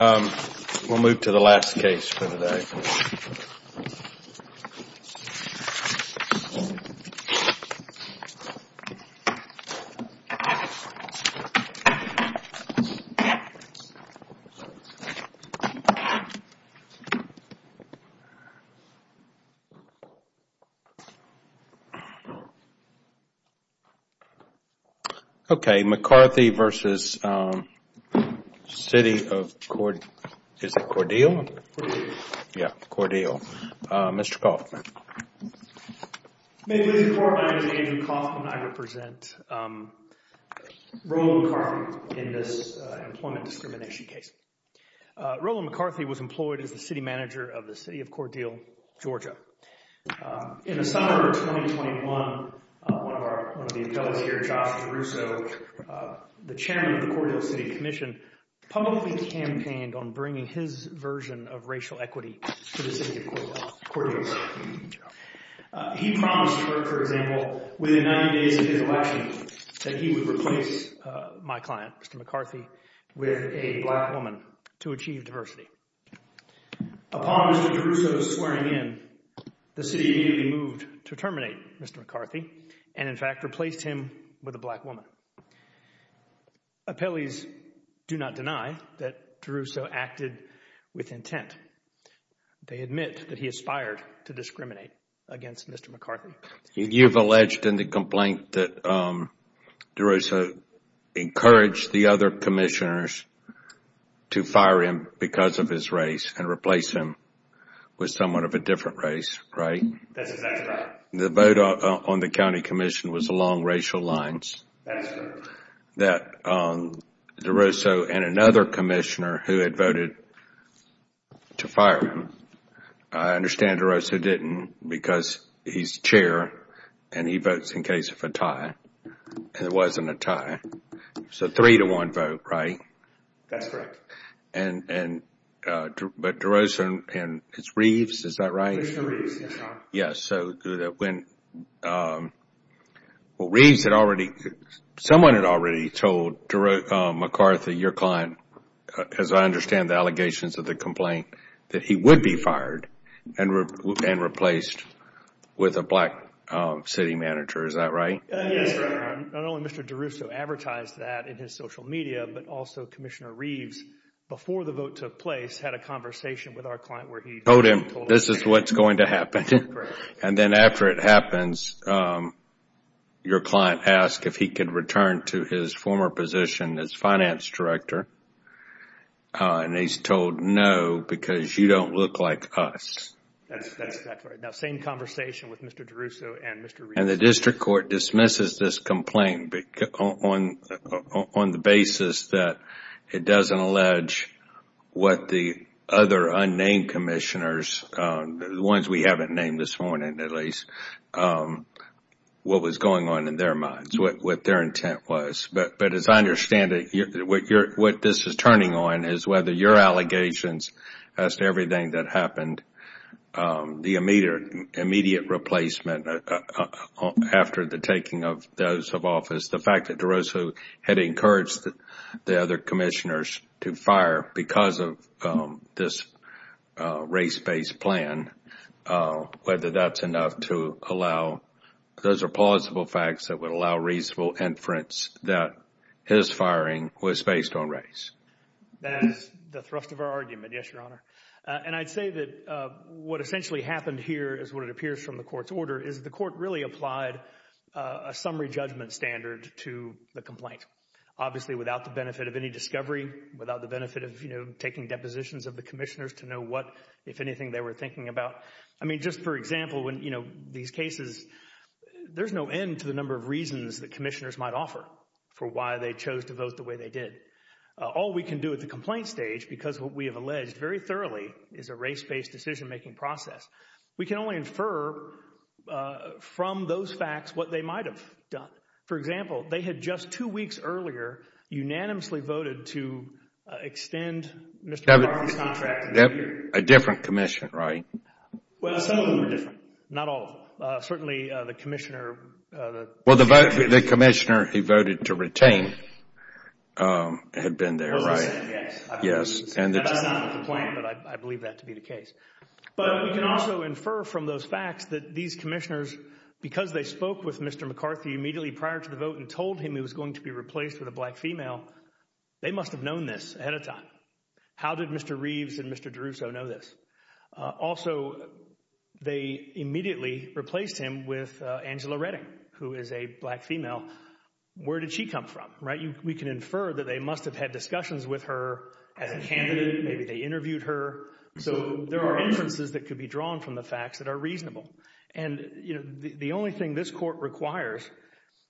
We will move to the last case for today. McCarthy v. City of Cordele Mr. Kaufman May it please the Court, my name is Andrew Kaufman, I represent Roland McCarthy in this employment discrimination case. Roland McCarthy was employed as the city manager of the City of Cordele, Georgia. In the summer of 2021, one of the appellees here, Josh DeRusso, the chairman of the Cordele City Commission, publicly campaigned on bringing his version of racial equity to the City of Cordele. He promised, for example, within 90 days of his election that he would replace my client, Mr. McCarthy, with a black woman to achieve diversity. Upon Mr. DeRusso's swearing in, the City immediately moved to terminate Mr. McCarthy and, in fact, replaced him with a black woman. Appellees do not deny that DeRusso acted with intent. They admit that he aspired to discriminate against Mr. McCarthy. You've alleged in the complaint that DeRusso encouraged the other commissioners to fire him because of his race and replace him with someone of a different race, right? That's correct. The vote on the county commission was along racial lines. That's correct. That DeRusso and another commissioner who had voted to fire him, I understand DeRusso didn't because he's chair and he votes in case of a tie and it wasn't a tie, so three to one vote, right? That's correct. But DeRusso and Reeves, is that right? Reeves. Yes. Reeves had already, someone had already told DeRusso, McCarthy, your client, as I understand the allegations of the complaint, that he would be fired and replaced with a black city manager. Is that right? Yes. Not only Mr. DeRusso advertised that in his social media, but also Commissioner Reeves, before the vote took place, had a conversation with our client where he told him this is what's going to happen. And then after it happens, your client asked if he could return to his former position as finance director and he's told no because you don't look like us. That's correct. Now, same conversation with Mr. DeRusso and Mr. Reeves. And the district court dismisses this complaint on the basis that it doesn't allege what the other unnamed commissioners, the ones we haven't named this morning at least, what was going on in their minds, what their intent was. But as I understand it, what this is turning on is whether your allegations as to everything that happened, the immediate replacement after the taking of those of office, the fact that DeRusso had encouraged the other commissioners to fire because of this race-based plan, whether that's enough to allow, those are plausible facts that would allow reasonable inference that his firing was based on race. That is the thrust of our argument, yes, Your Honor. And I'd say that what essentially happened here is what it appears from the court's order is the court really applied a summary judgment standard to the complaint, obviously without the benefit of any discovery, without the benefit of, you know, taking depositions of the commissioners to know what, if anything, they were thinking about. I mean, just for example, when, you know, these cases, there's no end to the number of reasons that commissioners might offer for why they chose to vote the way they did. All we can do at the complaint stage, because what we have alleged very thoroughly is a race-based decision-making process, we can only infer from those facts what they might have done. For example, they had just two weeks earlier unanimously voted to extend Mr. Barr's contract A different commission, right? Well, some of them were different, not all of them. Certainly, the commissioner, the Well, the commissioner he voted to retain had been there, right? Well, yes. Yes. That's not the complaint, but I believe that to be the case. But we can also infer from those facts that these commissioners, because they spoke with Mr. McCarthy immediately prior to the vote and told him he was going to be replaced with a black female, they must have known this ahead of time. How did Mr. Reeves and Mr. DeRusso know this? Also, they immediately replaced him with Angela Redding, who is a black female. Where did she come from? Right? We can infer that they must have had discussions with her as a candidate, maybe they interviewed her. So there are inferences that could be drawn from the facts that are reasonable. And the only thing this court requires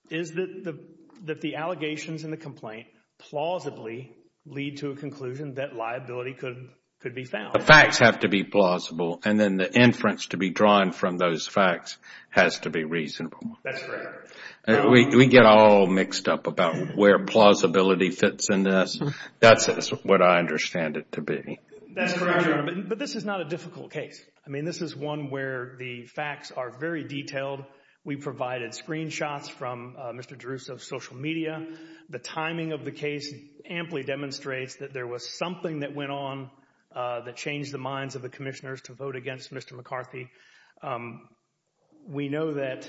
is that the allegations in the complaint plausibly lead to a conclusion that liability could be found. The facts have to be plausible and then the inference to be drawn from those facts has to be reasonable. That's correct. We get all mixed up about where plausibility fits in this. That's what I understand it to be. That's correct, Your Honor, but this is not a difficult case. I mean, this is one where the facts are very detailed. We provided screenshots from Mr. DeRusso's social media. The timing of the case amply demonstrates that there was something that went on that changed the minds of the commissioners to vote against Mr. McCarthy. We know that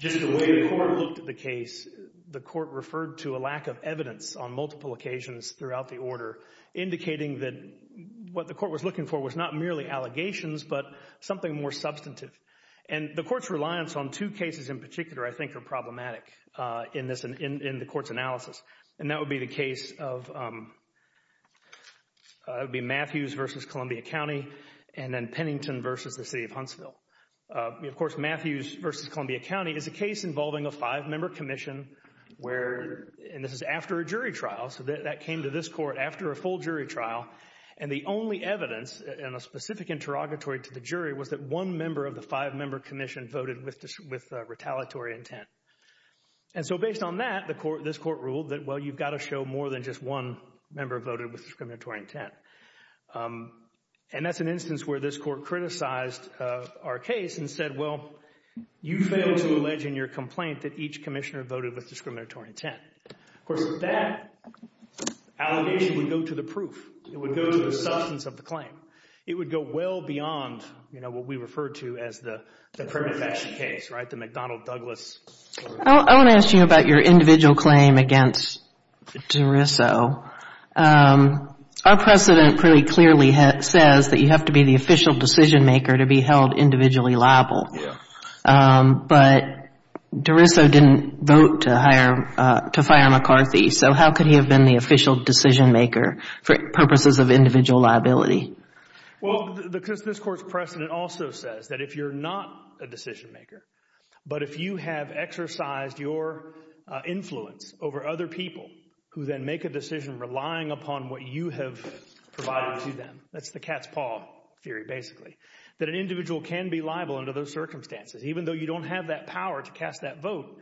just the way the court looked at the case, the court referred to a lack of evidence on multiple occasions throughout the order, indicating that what the court was looking for was not merely allegations, but something more substantive. And the court's reliance on two cases in particular, I think, are problematic in the court's analysis. And that would be the case of Matthews v. Columbia County and then Pennington v. the City of Huntsville. Of course, Matthews v. Columbia County is a case involving a five-member commission where, and this is after a jury trial, so that came to this court after a full jury trial, and the only evidence in a specific interrogatory to the jury was that one member of the five-member commission voted with retaliatory intent. And so based on that, this court ruled that, well, you've got to show more than just one member voted with discriminatory intent. And that's an instance where this court criticized our case and said, well, you failed to allege in your complaint that each commissioner voted with discriminatory intent. Of course, that allegation would go to the proof. It would go to the substance of the claim. It would go well beyond, you know, what we refer to as the credit faction case, right, the McDonnell-Douglas. I want to ask you about your individual claim against DeRusso. Our precedent pretty clearly says that you have to be the official decision-maker to be held individually liable, but DeRusso didn't vote to fire McCarthy, so how could he have been the official decision-maker for purposes of individual liability? Well, because this court's precedent also says that if you're not a decision-maker, but if you have exercised your influence over other people who then make a decision relying upon what you have provided to them, that's the cat's paw theory, basically, that an individual can be liable under those circumstances, even though you don't have that power to cast that vote.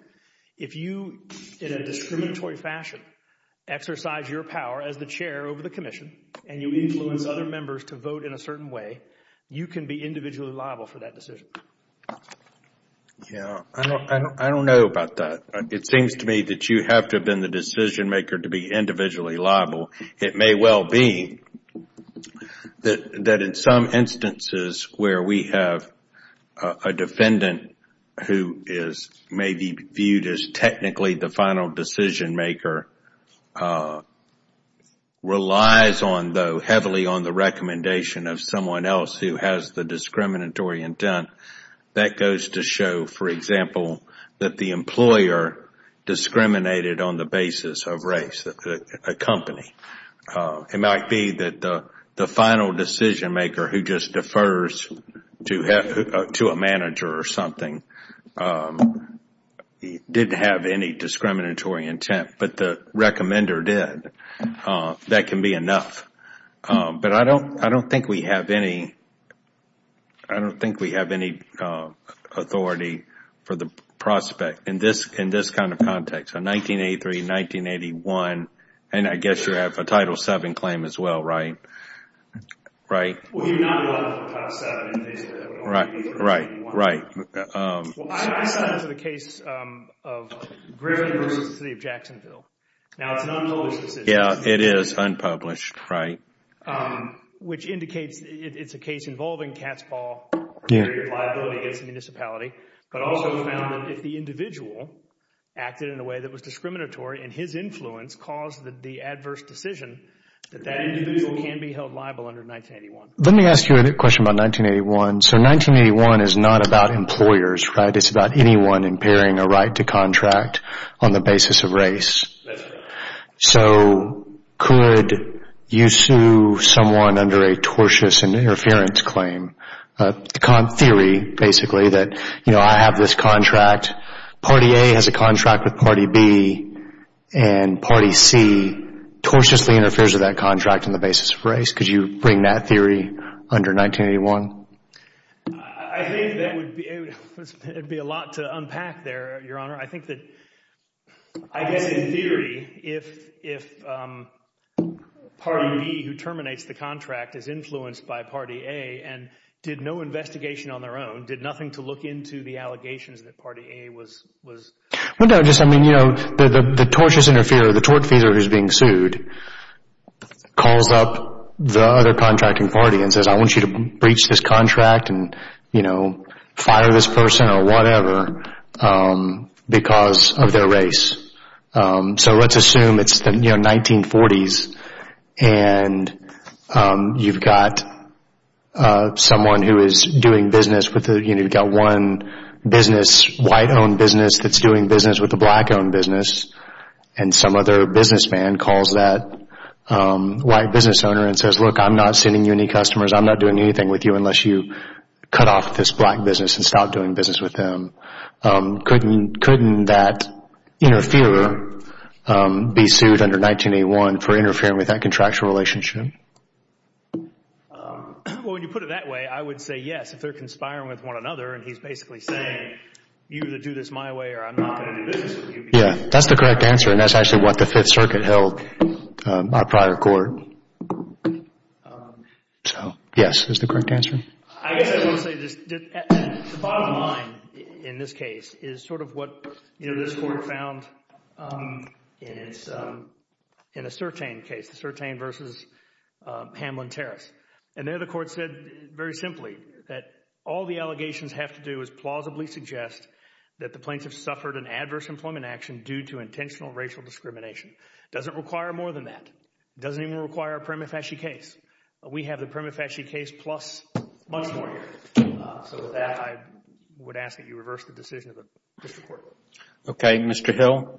If you, in a discriminatory fashion, exercise your power as the chair over the commission and you influence other members to vote in a certain way, you can be individually liable for that decision. Yeah, I don't know about that. It seems to me that you have to have been the decision-maker to be individually liable. It may well be that in some instances where we have a defendant who is maybe viewed as technically the final decision-maker, relies heavily on the recommendation of someone else who has the discriminatory intent, that goes to show, for example, that the employer discriminated on the basis of race, a company. It might be that the final decision-maker who just defers to a manager or something didn't have any discriminatory intent, but the recommender did. That can be enough. But I don't think we have any authority for the prospect in this kind of context. So 1983, 1981, and I guess you have a Title VII claim as well, right? Well, we do not have a Title VII in this case. Right, right. Well, I cited the case of Griffin v. The City of Jacksonville. Now, it's an unpublished decision. Yeah, it is unpublished, right. Which indicates it's a case involving cat's ball liability against the municipality. But also we found that if the individual acted in a way that was discriminatory and his influence caused the adverse decision, that that individual can be held liable under 1981. Let me ask you a question about 1981. So 1981 is not about employers, right? It's about anyone impairing a right to contract on the basis of race. That's right. So could you sue someone under a tortious interference claim? Theory, basically, that, you know, I have this contract. Party A has a contract with Party B. And Party C tortiously interferes with that contract on the basis of race. Could you bring that theory under 1981? I think that would be a lot to unpack there, Your Honor. I think that, I guess in theory, if Party B, who terminates the contract, is influenced by Party A, and did no investigation on their own, did nothing to look into the allegations that Party A was... Well, no, just, I mean, you know, the tortious interferer, the tortfeasor who's being sued, calls up the other contracting party and says, I want you to breach this contract and, you know, fire this person or whatever because of their race. So let's assume it's the, you know, 1940s. And you've got someone who is doing business with, you know, you've got one business, white-owned business, that's doing business with a black-owned business. And some other businessman calls that white business owner and says, look, I'm not sending you any customers. I'm not doing anything with you unless you cut off this black business and stop doing business with them. Couldn't that interferer be sued under 1981 for interfering with that contractual relationship? Well, when you put it that way, I would say yes, if they're conspiring with one another and he's basically saying, you either do this my way or I'm not going to do business with you. Yeah, that's the correct answer. And that's actually what the Fifth Circuit held by prior court. So, yes, that's the correct answer. I guess I will say this. The bottom line in this case is sort of what, you know, this court found in a Sertain case, the Sertain versus Hamlin-Terrace. And there the court said very simply that all the allegations have to do is plausibly suggest that the plaintiff suffered an adverse employment action due to intentional racial discrimination. It doesn't require more than that. It doesn't even require a prima facie case. We have the prima facie case plus much more here. So with that, I would ask that you reverse the decision of the district court. Okay, Mr. Hill.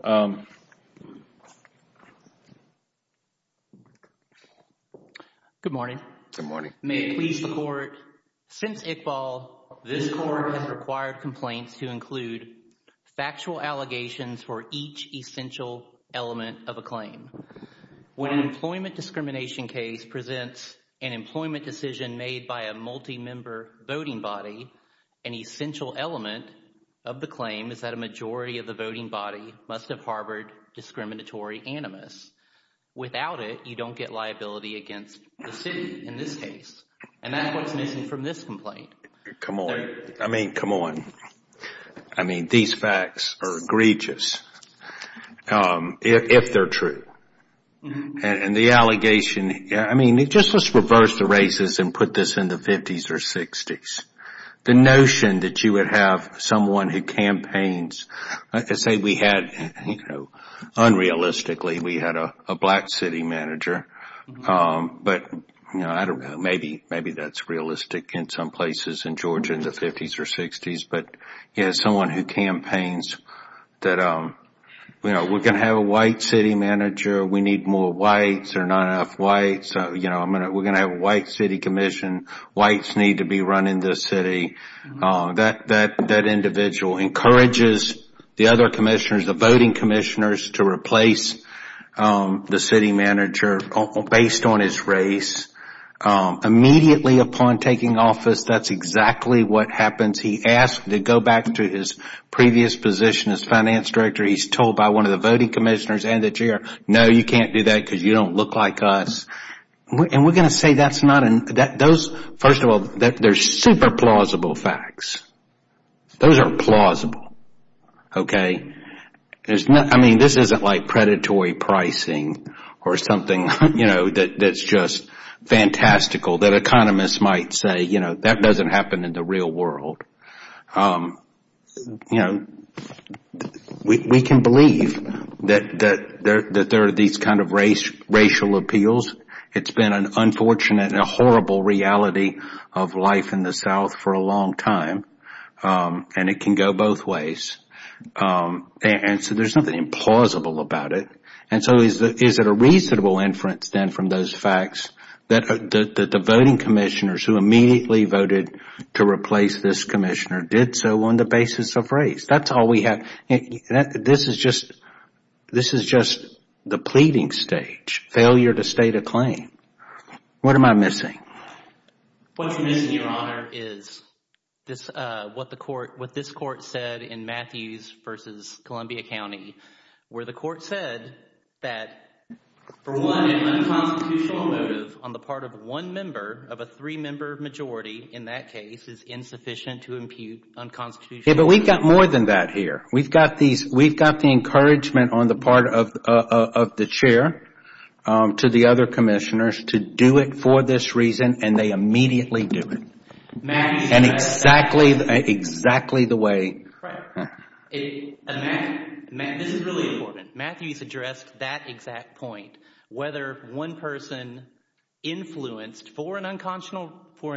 Good morning. Good morning. May it please the court, since Iqbal, this court has required complaints to include factual allegations for each essential element of a claim. When an employment discrimination case presents an employment decision made by a multi-member voting body, an essential element of the claim is that a majority of the voting body must have harbored discriminatory animus. Without it, you don't get liability against the city in this case. And that's what's missing from this complaint. Come on. I mean, come on. I mean, these facts are egregious. If they're true. And the allegation, I mean, just let's reverse the races and put this in the 50s or 60s. The notion that you would have someone who campaigns. Let's say we had, you know, unrealistically, we had a black city manager. But, you know, I don't know, maybe that's realistic in some places in Georgia in the 50s or 60s. But someone who campaigns that, you know, we're going to have a white city manager. We need more whites. There are not enough whites. We're going to have a white city commission. Whites need to be running this city. That individual encourages the other commissioners, the voting commissioners, to replace the city manager based on his race. Immediately upon taking office, that's exactly what happens. He asks to go back to his previous position as finance director. He's told by one of the voting commissioners and the chair, no, you can't do that because you don't look like us. And we're going to say that's not, those, first of all, they're super plausible facts. Those are plausible. Okay. I mean, this isn't like predatory pricing or something, you know, that's just fantastical. That economists might say, you know, that doesn't happen in the real world. You know, we can believe that there are these kind of racial appeals. It's been an unfortunate and a horrible reality of life in the South for a long time. And it can go both ways. And so there's nothing implausible about it. And so is it a reasonable inference then from those facts that the voting commissioners who immediately voted to replace this commissioner did so on the basis of race? That's all we have. This is just the pleading stage, failure to state a claim. What am I missing? What you're missing, Your Honor, is what this court said in Matthews v. Columbia County, where the court said that, for one, an unconstitutional motive on the part of one member of a three-member majority in that case is insufficient to impute unconstitutional motive. Yeah, but we've got more than that here. We've got the encouragement on the part of the chair to the other commissioners to do it for this reason, and they immediately do it. And exactly the way... This is really important. Matthews addressed that exact point. Whether one person influenced, for an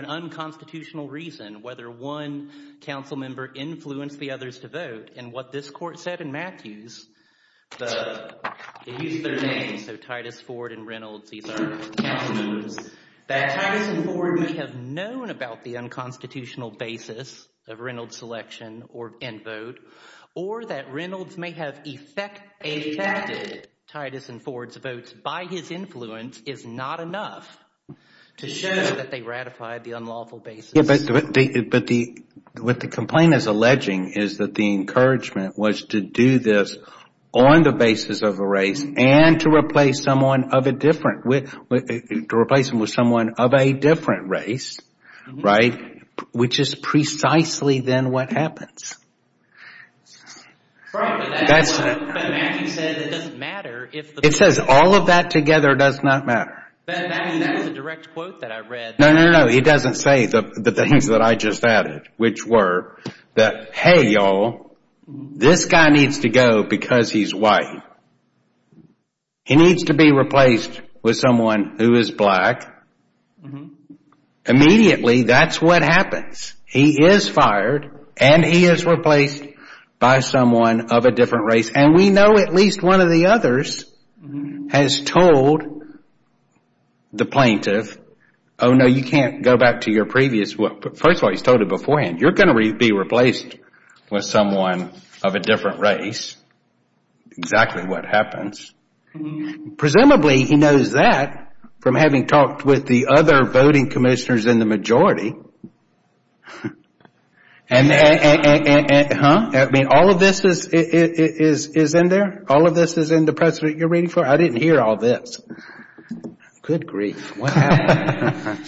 unconstitutional reason, whether one council member influenced the others to vote, and what this court said in Matthews, they used their names, so Titus, Ford, and Reynolds, these are council members, that Titus and Ford may have known about the unconstitutional basis of Reynolds' selection and vote, or that Reynolds may have affected Titus and Ford's votes by his influence is not enough to show that they ratified the unlawful basis. But what the complaint is alleging is that the encouragement was to do this on the basis of a race and to replace them with someone of a different race, right? Which is precisely then what happens. It says all of that together does not matter. No, no, no, he doesn't say the things that I just added, which were that, hey, y'all, this guy needs to go because he's white. He needs to be replaced with someone who is black. Immediately, that's what happens. He is fired, and he is replaced by someone of a different race. And we know at least one of the others has told the plaintiff, oh, no, you can't go back to your previous, first of all, he's told it beforehand, you're going to be replaced with someone of a different race. Exactly what happens. Presumably, he knows that from having talked with the other voting commissioners in the majority. Huh? I mean, all of this is in there? All of this is in the press that you're reading for? I didn't hear all this. Good grief, what happened?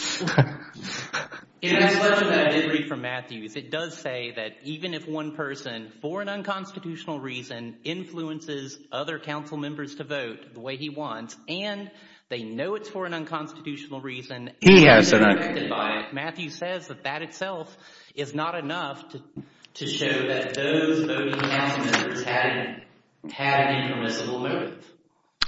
In addition to what I did read from Matthews, it does say that even if one person, for an unconstitutional reason, influences other council members to vote the way he wants, and they know it's for an unconstitutional reason, and they're affected by it, Matthews says that that itself is not enough to show that those voting council members had an impermissible motive.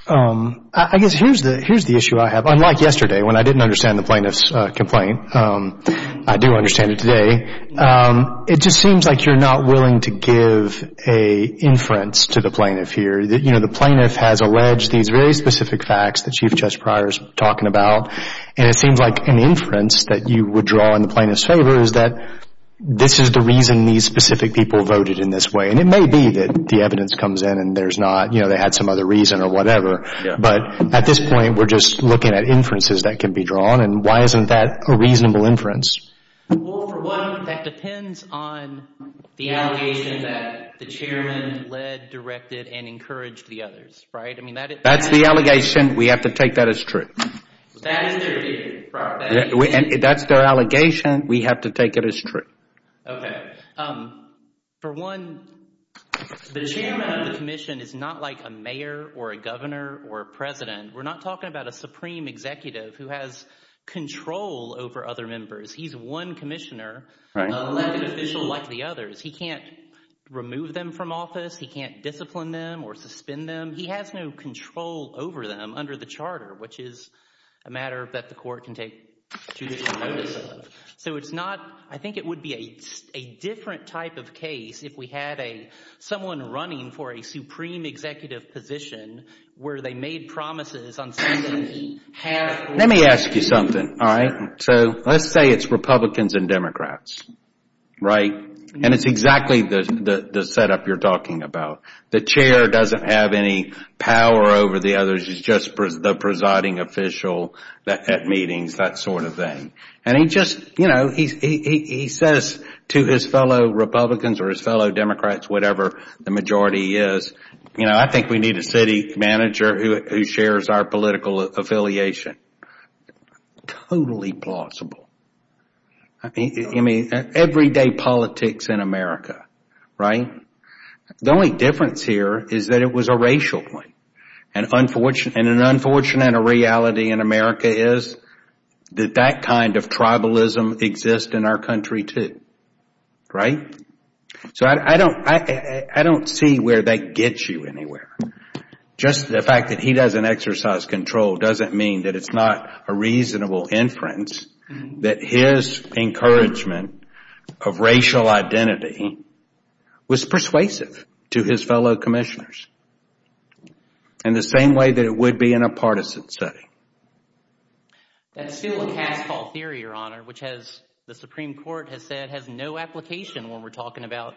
I guess here's the issue I have. Unlike yesterday, when I didn't understand the plaintiff's complaint, I do understand it today. It just seems like you're not willing to give an inference to the plaintiff here. You know, the plaintiff has alleged these very specific facts that Chief Justice Pryor is talking about, and it seems like an inference that you would draw in the plaintiff's favor is that this is the reason these specific people voted in this way, and it may be that the evidence comes in and there's not, you know, they had some other reason or whatever, but at this point, we're just looking at inferences that can be drawn, and why isn't that a reasonable inference? Well, for one, that depends on the allegation that the chairman led, directed, and encouraged the others, right? That's the allegation. We have to take that as true. That is their opinion. That's their allegation. We have to take it as true. Okay. For one, the chairman of the commission is not like a mayor or a governor or a president. We're not talking about a supreme executive who has control over other members. He's one commissioner, an elected official like the others. He can't remove them from office. He can't discipline them or suspend them. He has no control over them under the charter, which is a matter that the court can take judicial notice of. So it's not—I think it would be a different type of case if we had someone running for a supreme executive position where they made promises on something he had— Let me ask you something, all right? So let's say it's Republicans and Democrats, right? And it's exactly the setup you're talking about. The chair doesn't have any power over the others. He's just the presiding official at meetings, that sort of thing. And he just—you know, he says to his fellow Republicans or his fellow Democrats, whatever the majority is, you know, I think we need a city manager who shares our political affiliation. Totally plausible. I mean, everyday politics in America, right? The only difference here is that it was a racial point. And an unfortunate reality in America is that that kind of tribalism exists in our country too, right? So I don't see where that gets you anywhere. Just the fact that he doesn't exercise control doesn't mean that it's not a reasonable inference that his encouragement of racial identity was persuasive to his fellow commissioners in the same way that it would be in a partisan setting. That's still a cast-call theory, Your Honor, which, as the Supreme Court has said, has no application when we're talking about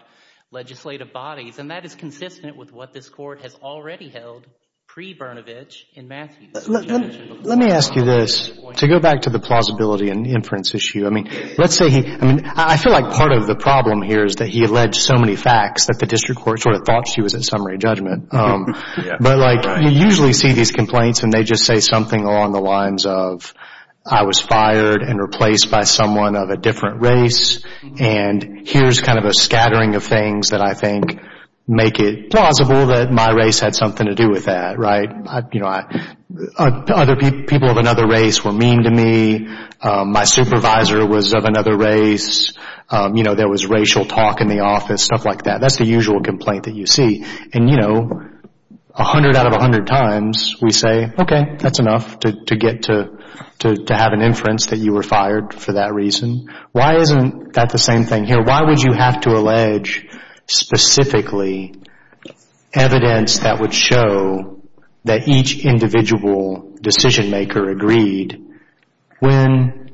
legislative bodies. And that is consistent with what this Court has already held pre-Bernovich and Matthews. Let me ask you this. To go back to the plausibility and inference issue, I mean, let's say he—I mean, I feel like part of the problem here is that he alleged so many facts that the district court sort of thought she was at summary judgment. But, like, you usually see these complaints and they just say something along the lines of I was fired and replaced by someone of a different race, and here's kind of a scattering of things that I think make it plausible that my race had something to do with that. Other people of another race were mean to me. My supervisor was of another race. You know, there was racial talk in the office, stuff like that. That's the usual complaint that you see. And, you know, 100 out of 100 times, we say, okay, that's enough to get to have an inference that you were fired for that reason. Why isn't that the same thing here? Why would you have to allege specifically evidence that would show that each individual decision-maker agreed when,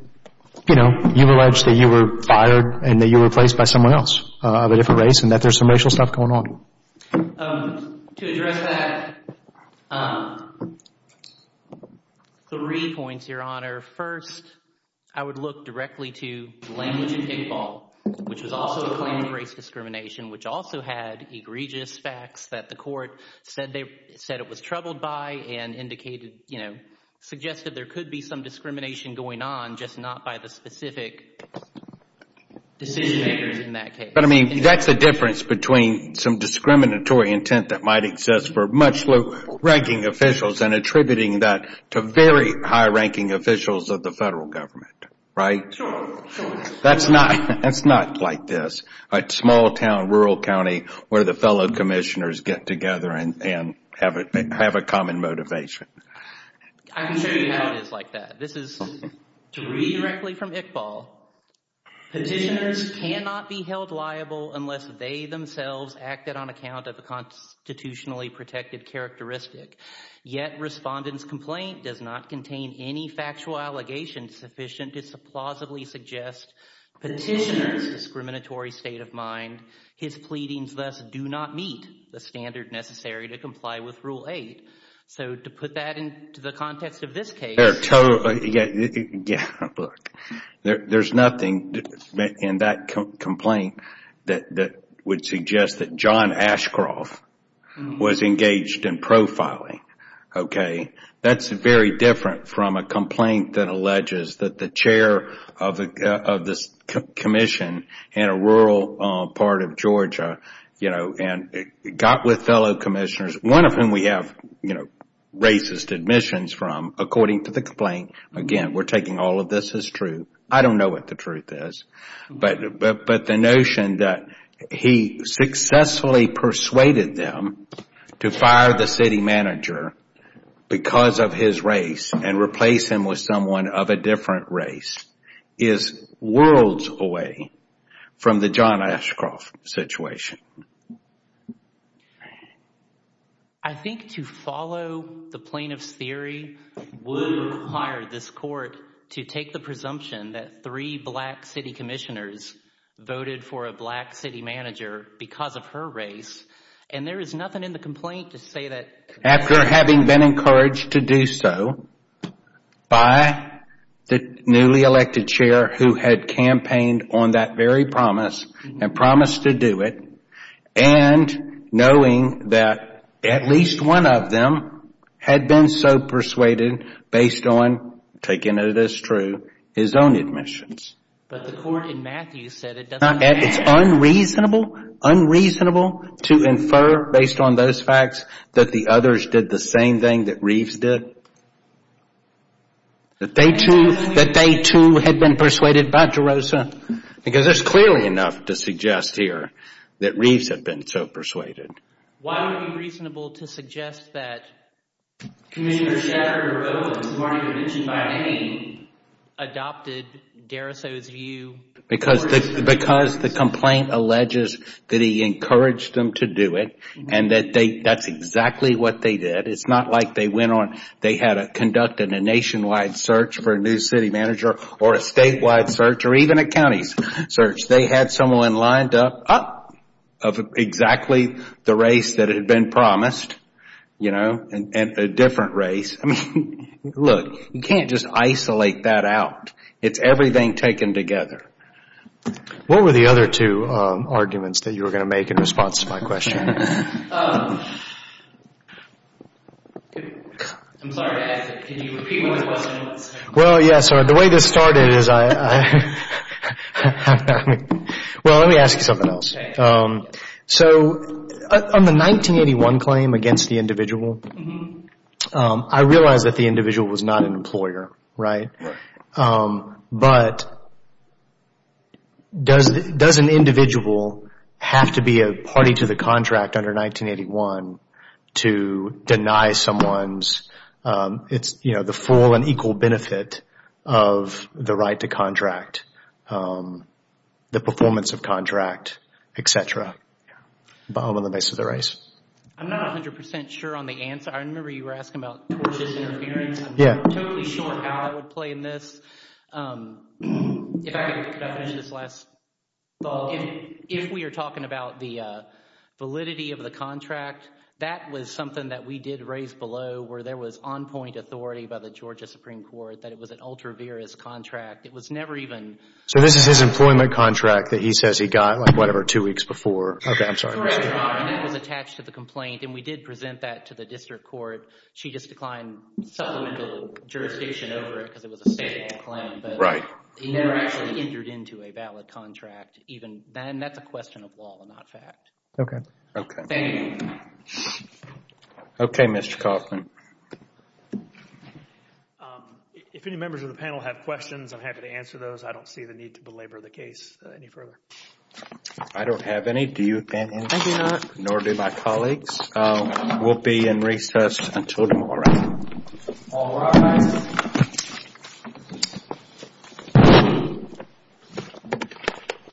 you know, you allege that you were fired and that you were replaced by someone else of a different race and that there's some racial stuff going on? To address that, three points, Your Honor. First, I would look directly to language in Pickleball, which was also a claim of race discrimination, which also had egregious facts that the court said it was troubled by and indicated, you know, suggested there could be some discrimination going on, just not by the specific decision-makers in that case. But, I mean, that's the difference between some discriminatory intent that might exist for much low-ranking officials and attributing that to very high-ranking officials of the federal government, right? Sure. That's not like this. A small town, rural county, where the fellow commissioners get together and have a common motivation. I can show you how it is like that. This is to read directly from Iqbal. Petitioners cannot be held liable unless they themselves acted on account of a constitutionally protected characteristic. Yet respondent's complaint does not contain any factual allegation sufficient to plausibly suggest petitioner's discriminatory state of mind. His pleadings, thus, do not meet the standard necessary to comply with Rule 8. So, to put that into the context of this case. Yeah, look, there's nothing in that complaint that would suggest that John Ashcroft was engaged in profiling, okay? That's very different from a complaint that alleges that the chair of this commission in a rural part of Georgia, you know, got with fellow commissioners, one of whom we have racist admissions from, according to the complaint. Again, we're taking all of this as true. I don't know what the truth is. But the notion that he successfully persuaded them to fire the city manager because of his race and replace him with someone of a different race is worlds away from the John Ashcroft situation. I think to follow the plaintiff's theory would require this court to take the presumption that three black city commissioners voted for a black city manager because of her race. And there is nothing in the complaint to say that. After having been encouraged to do so by the newly elected chair who had campaigned on that very promise and promised to do it and knowing that at least one of them had been so persuaded based on, taking it as true, his own admissions. But the court in Matthews said it doesn't matter. It's unreasonable, unreasonable to infer based on those facts that the others did the same thing that Reeves did. That they, too, had been persuaded by DeRosa. Because there's clearly enough to suggest here that Reeves had been so persuaded. Why would it be reasonable to suggest that Commissioner Shaffer and Robbins, who aren't even mentioned by name, adopted DeRoso's view? Because the complaint alleges that he encouraged them to do it and that that's exactly what they did. It's not like they had conducted a nationwide search for a new city manager or a statewide search or even a county search. They had someone lined up of exactly the race that had been promised and a different race. Look, you can't just isolate that out. It's everything taken together. What were the other two arguments that you were going to make in response to my question? I'm sorry to ask it. Can you repeat what the question was? Well, yes. The way this started is I... Well, let me ask you something else. So on the 1981 claim against the individual, I realized that the individual was not an employer, right? But does an individual have to be a party to the contract under 1981 to deny someone the full and equal benefit of the right to contract, the performance of contract, et cetera, on the basis of race? I'm not 100% sure on the answer. I remember you were asking about towards this interference. I'm not totally sure how I would play in this. If I could finish this last thought. If we are talking about the validity of the contract, that was something that we did raise below where there was on-point authority by the Georgia Supreme Court that it was an ultra-virus contract. It was never even... So this is his employment contract that he says he got, like, whatever, two weeks before. Okay, I'm sorry. That was attached to the complaint, and we did present that to the district court. She just declined supplemental jurisdiction over it because it was a state claim. Right. He never actually entered into a valid contract. And that's a question of law, not fact. Okay. Thank you. Okay, Mr. Kaufman. If any members of the panel have questions, I'm happy to answer those. I don't see the need to belabor the case any further. I don't have any. Do you, Ben? Maybe not. Nor do my colleagues. We'll be in recess until tomorrow. All rise.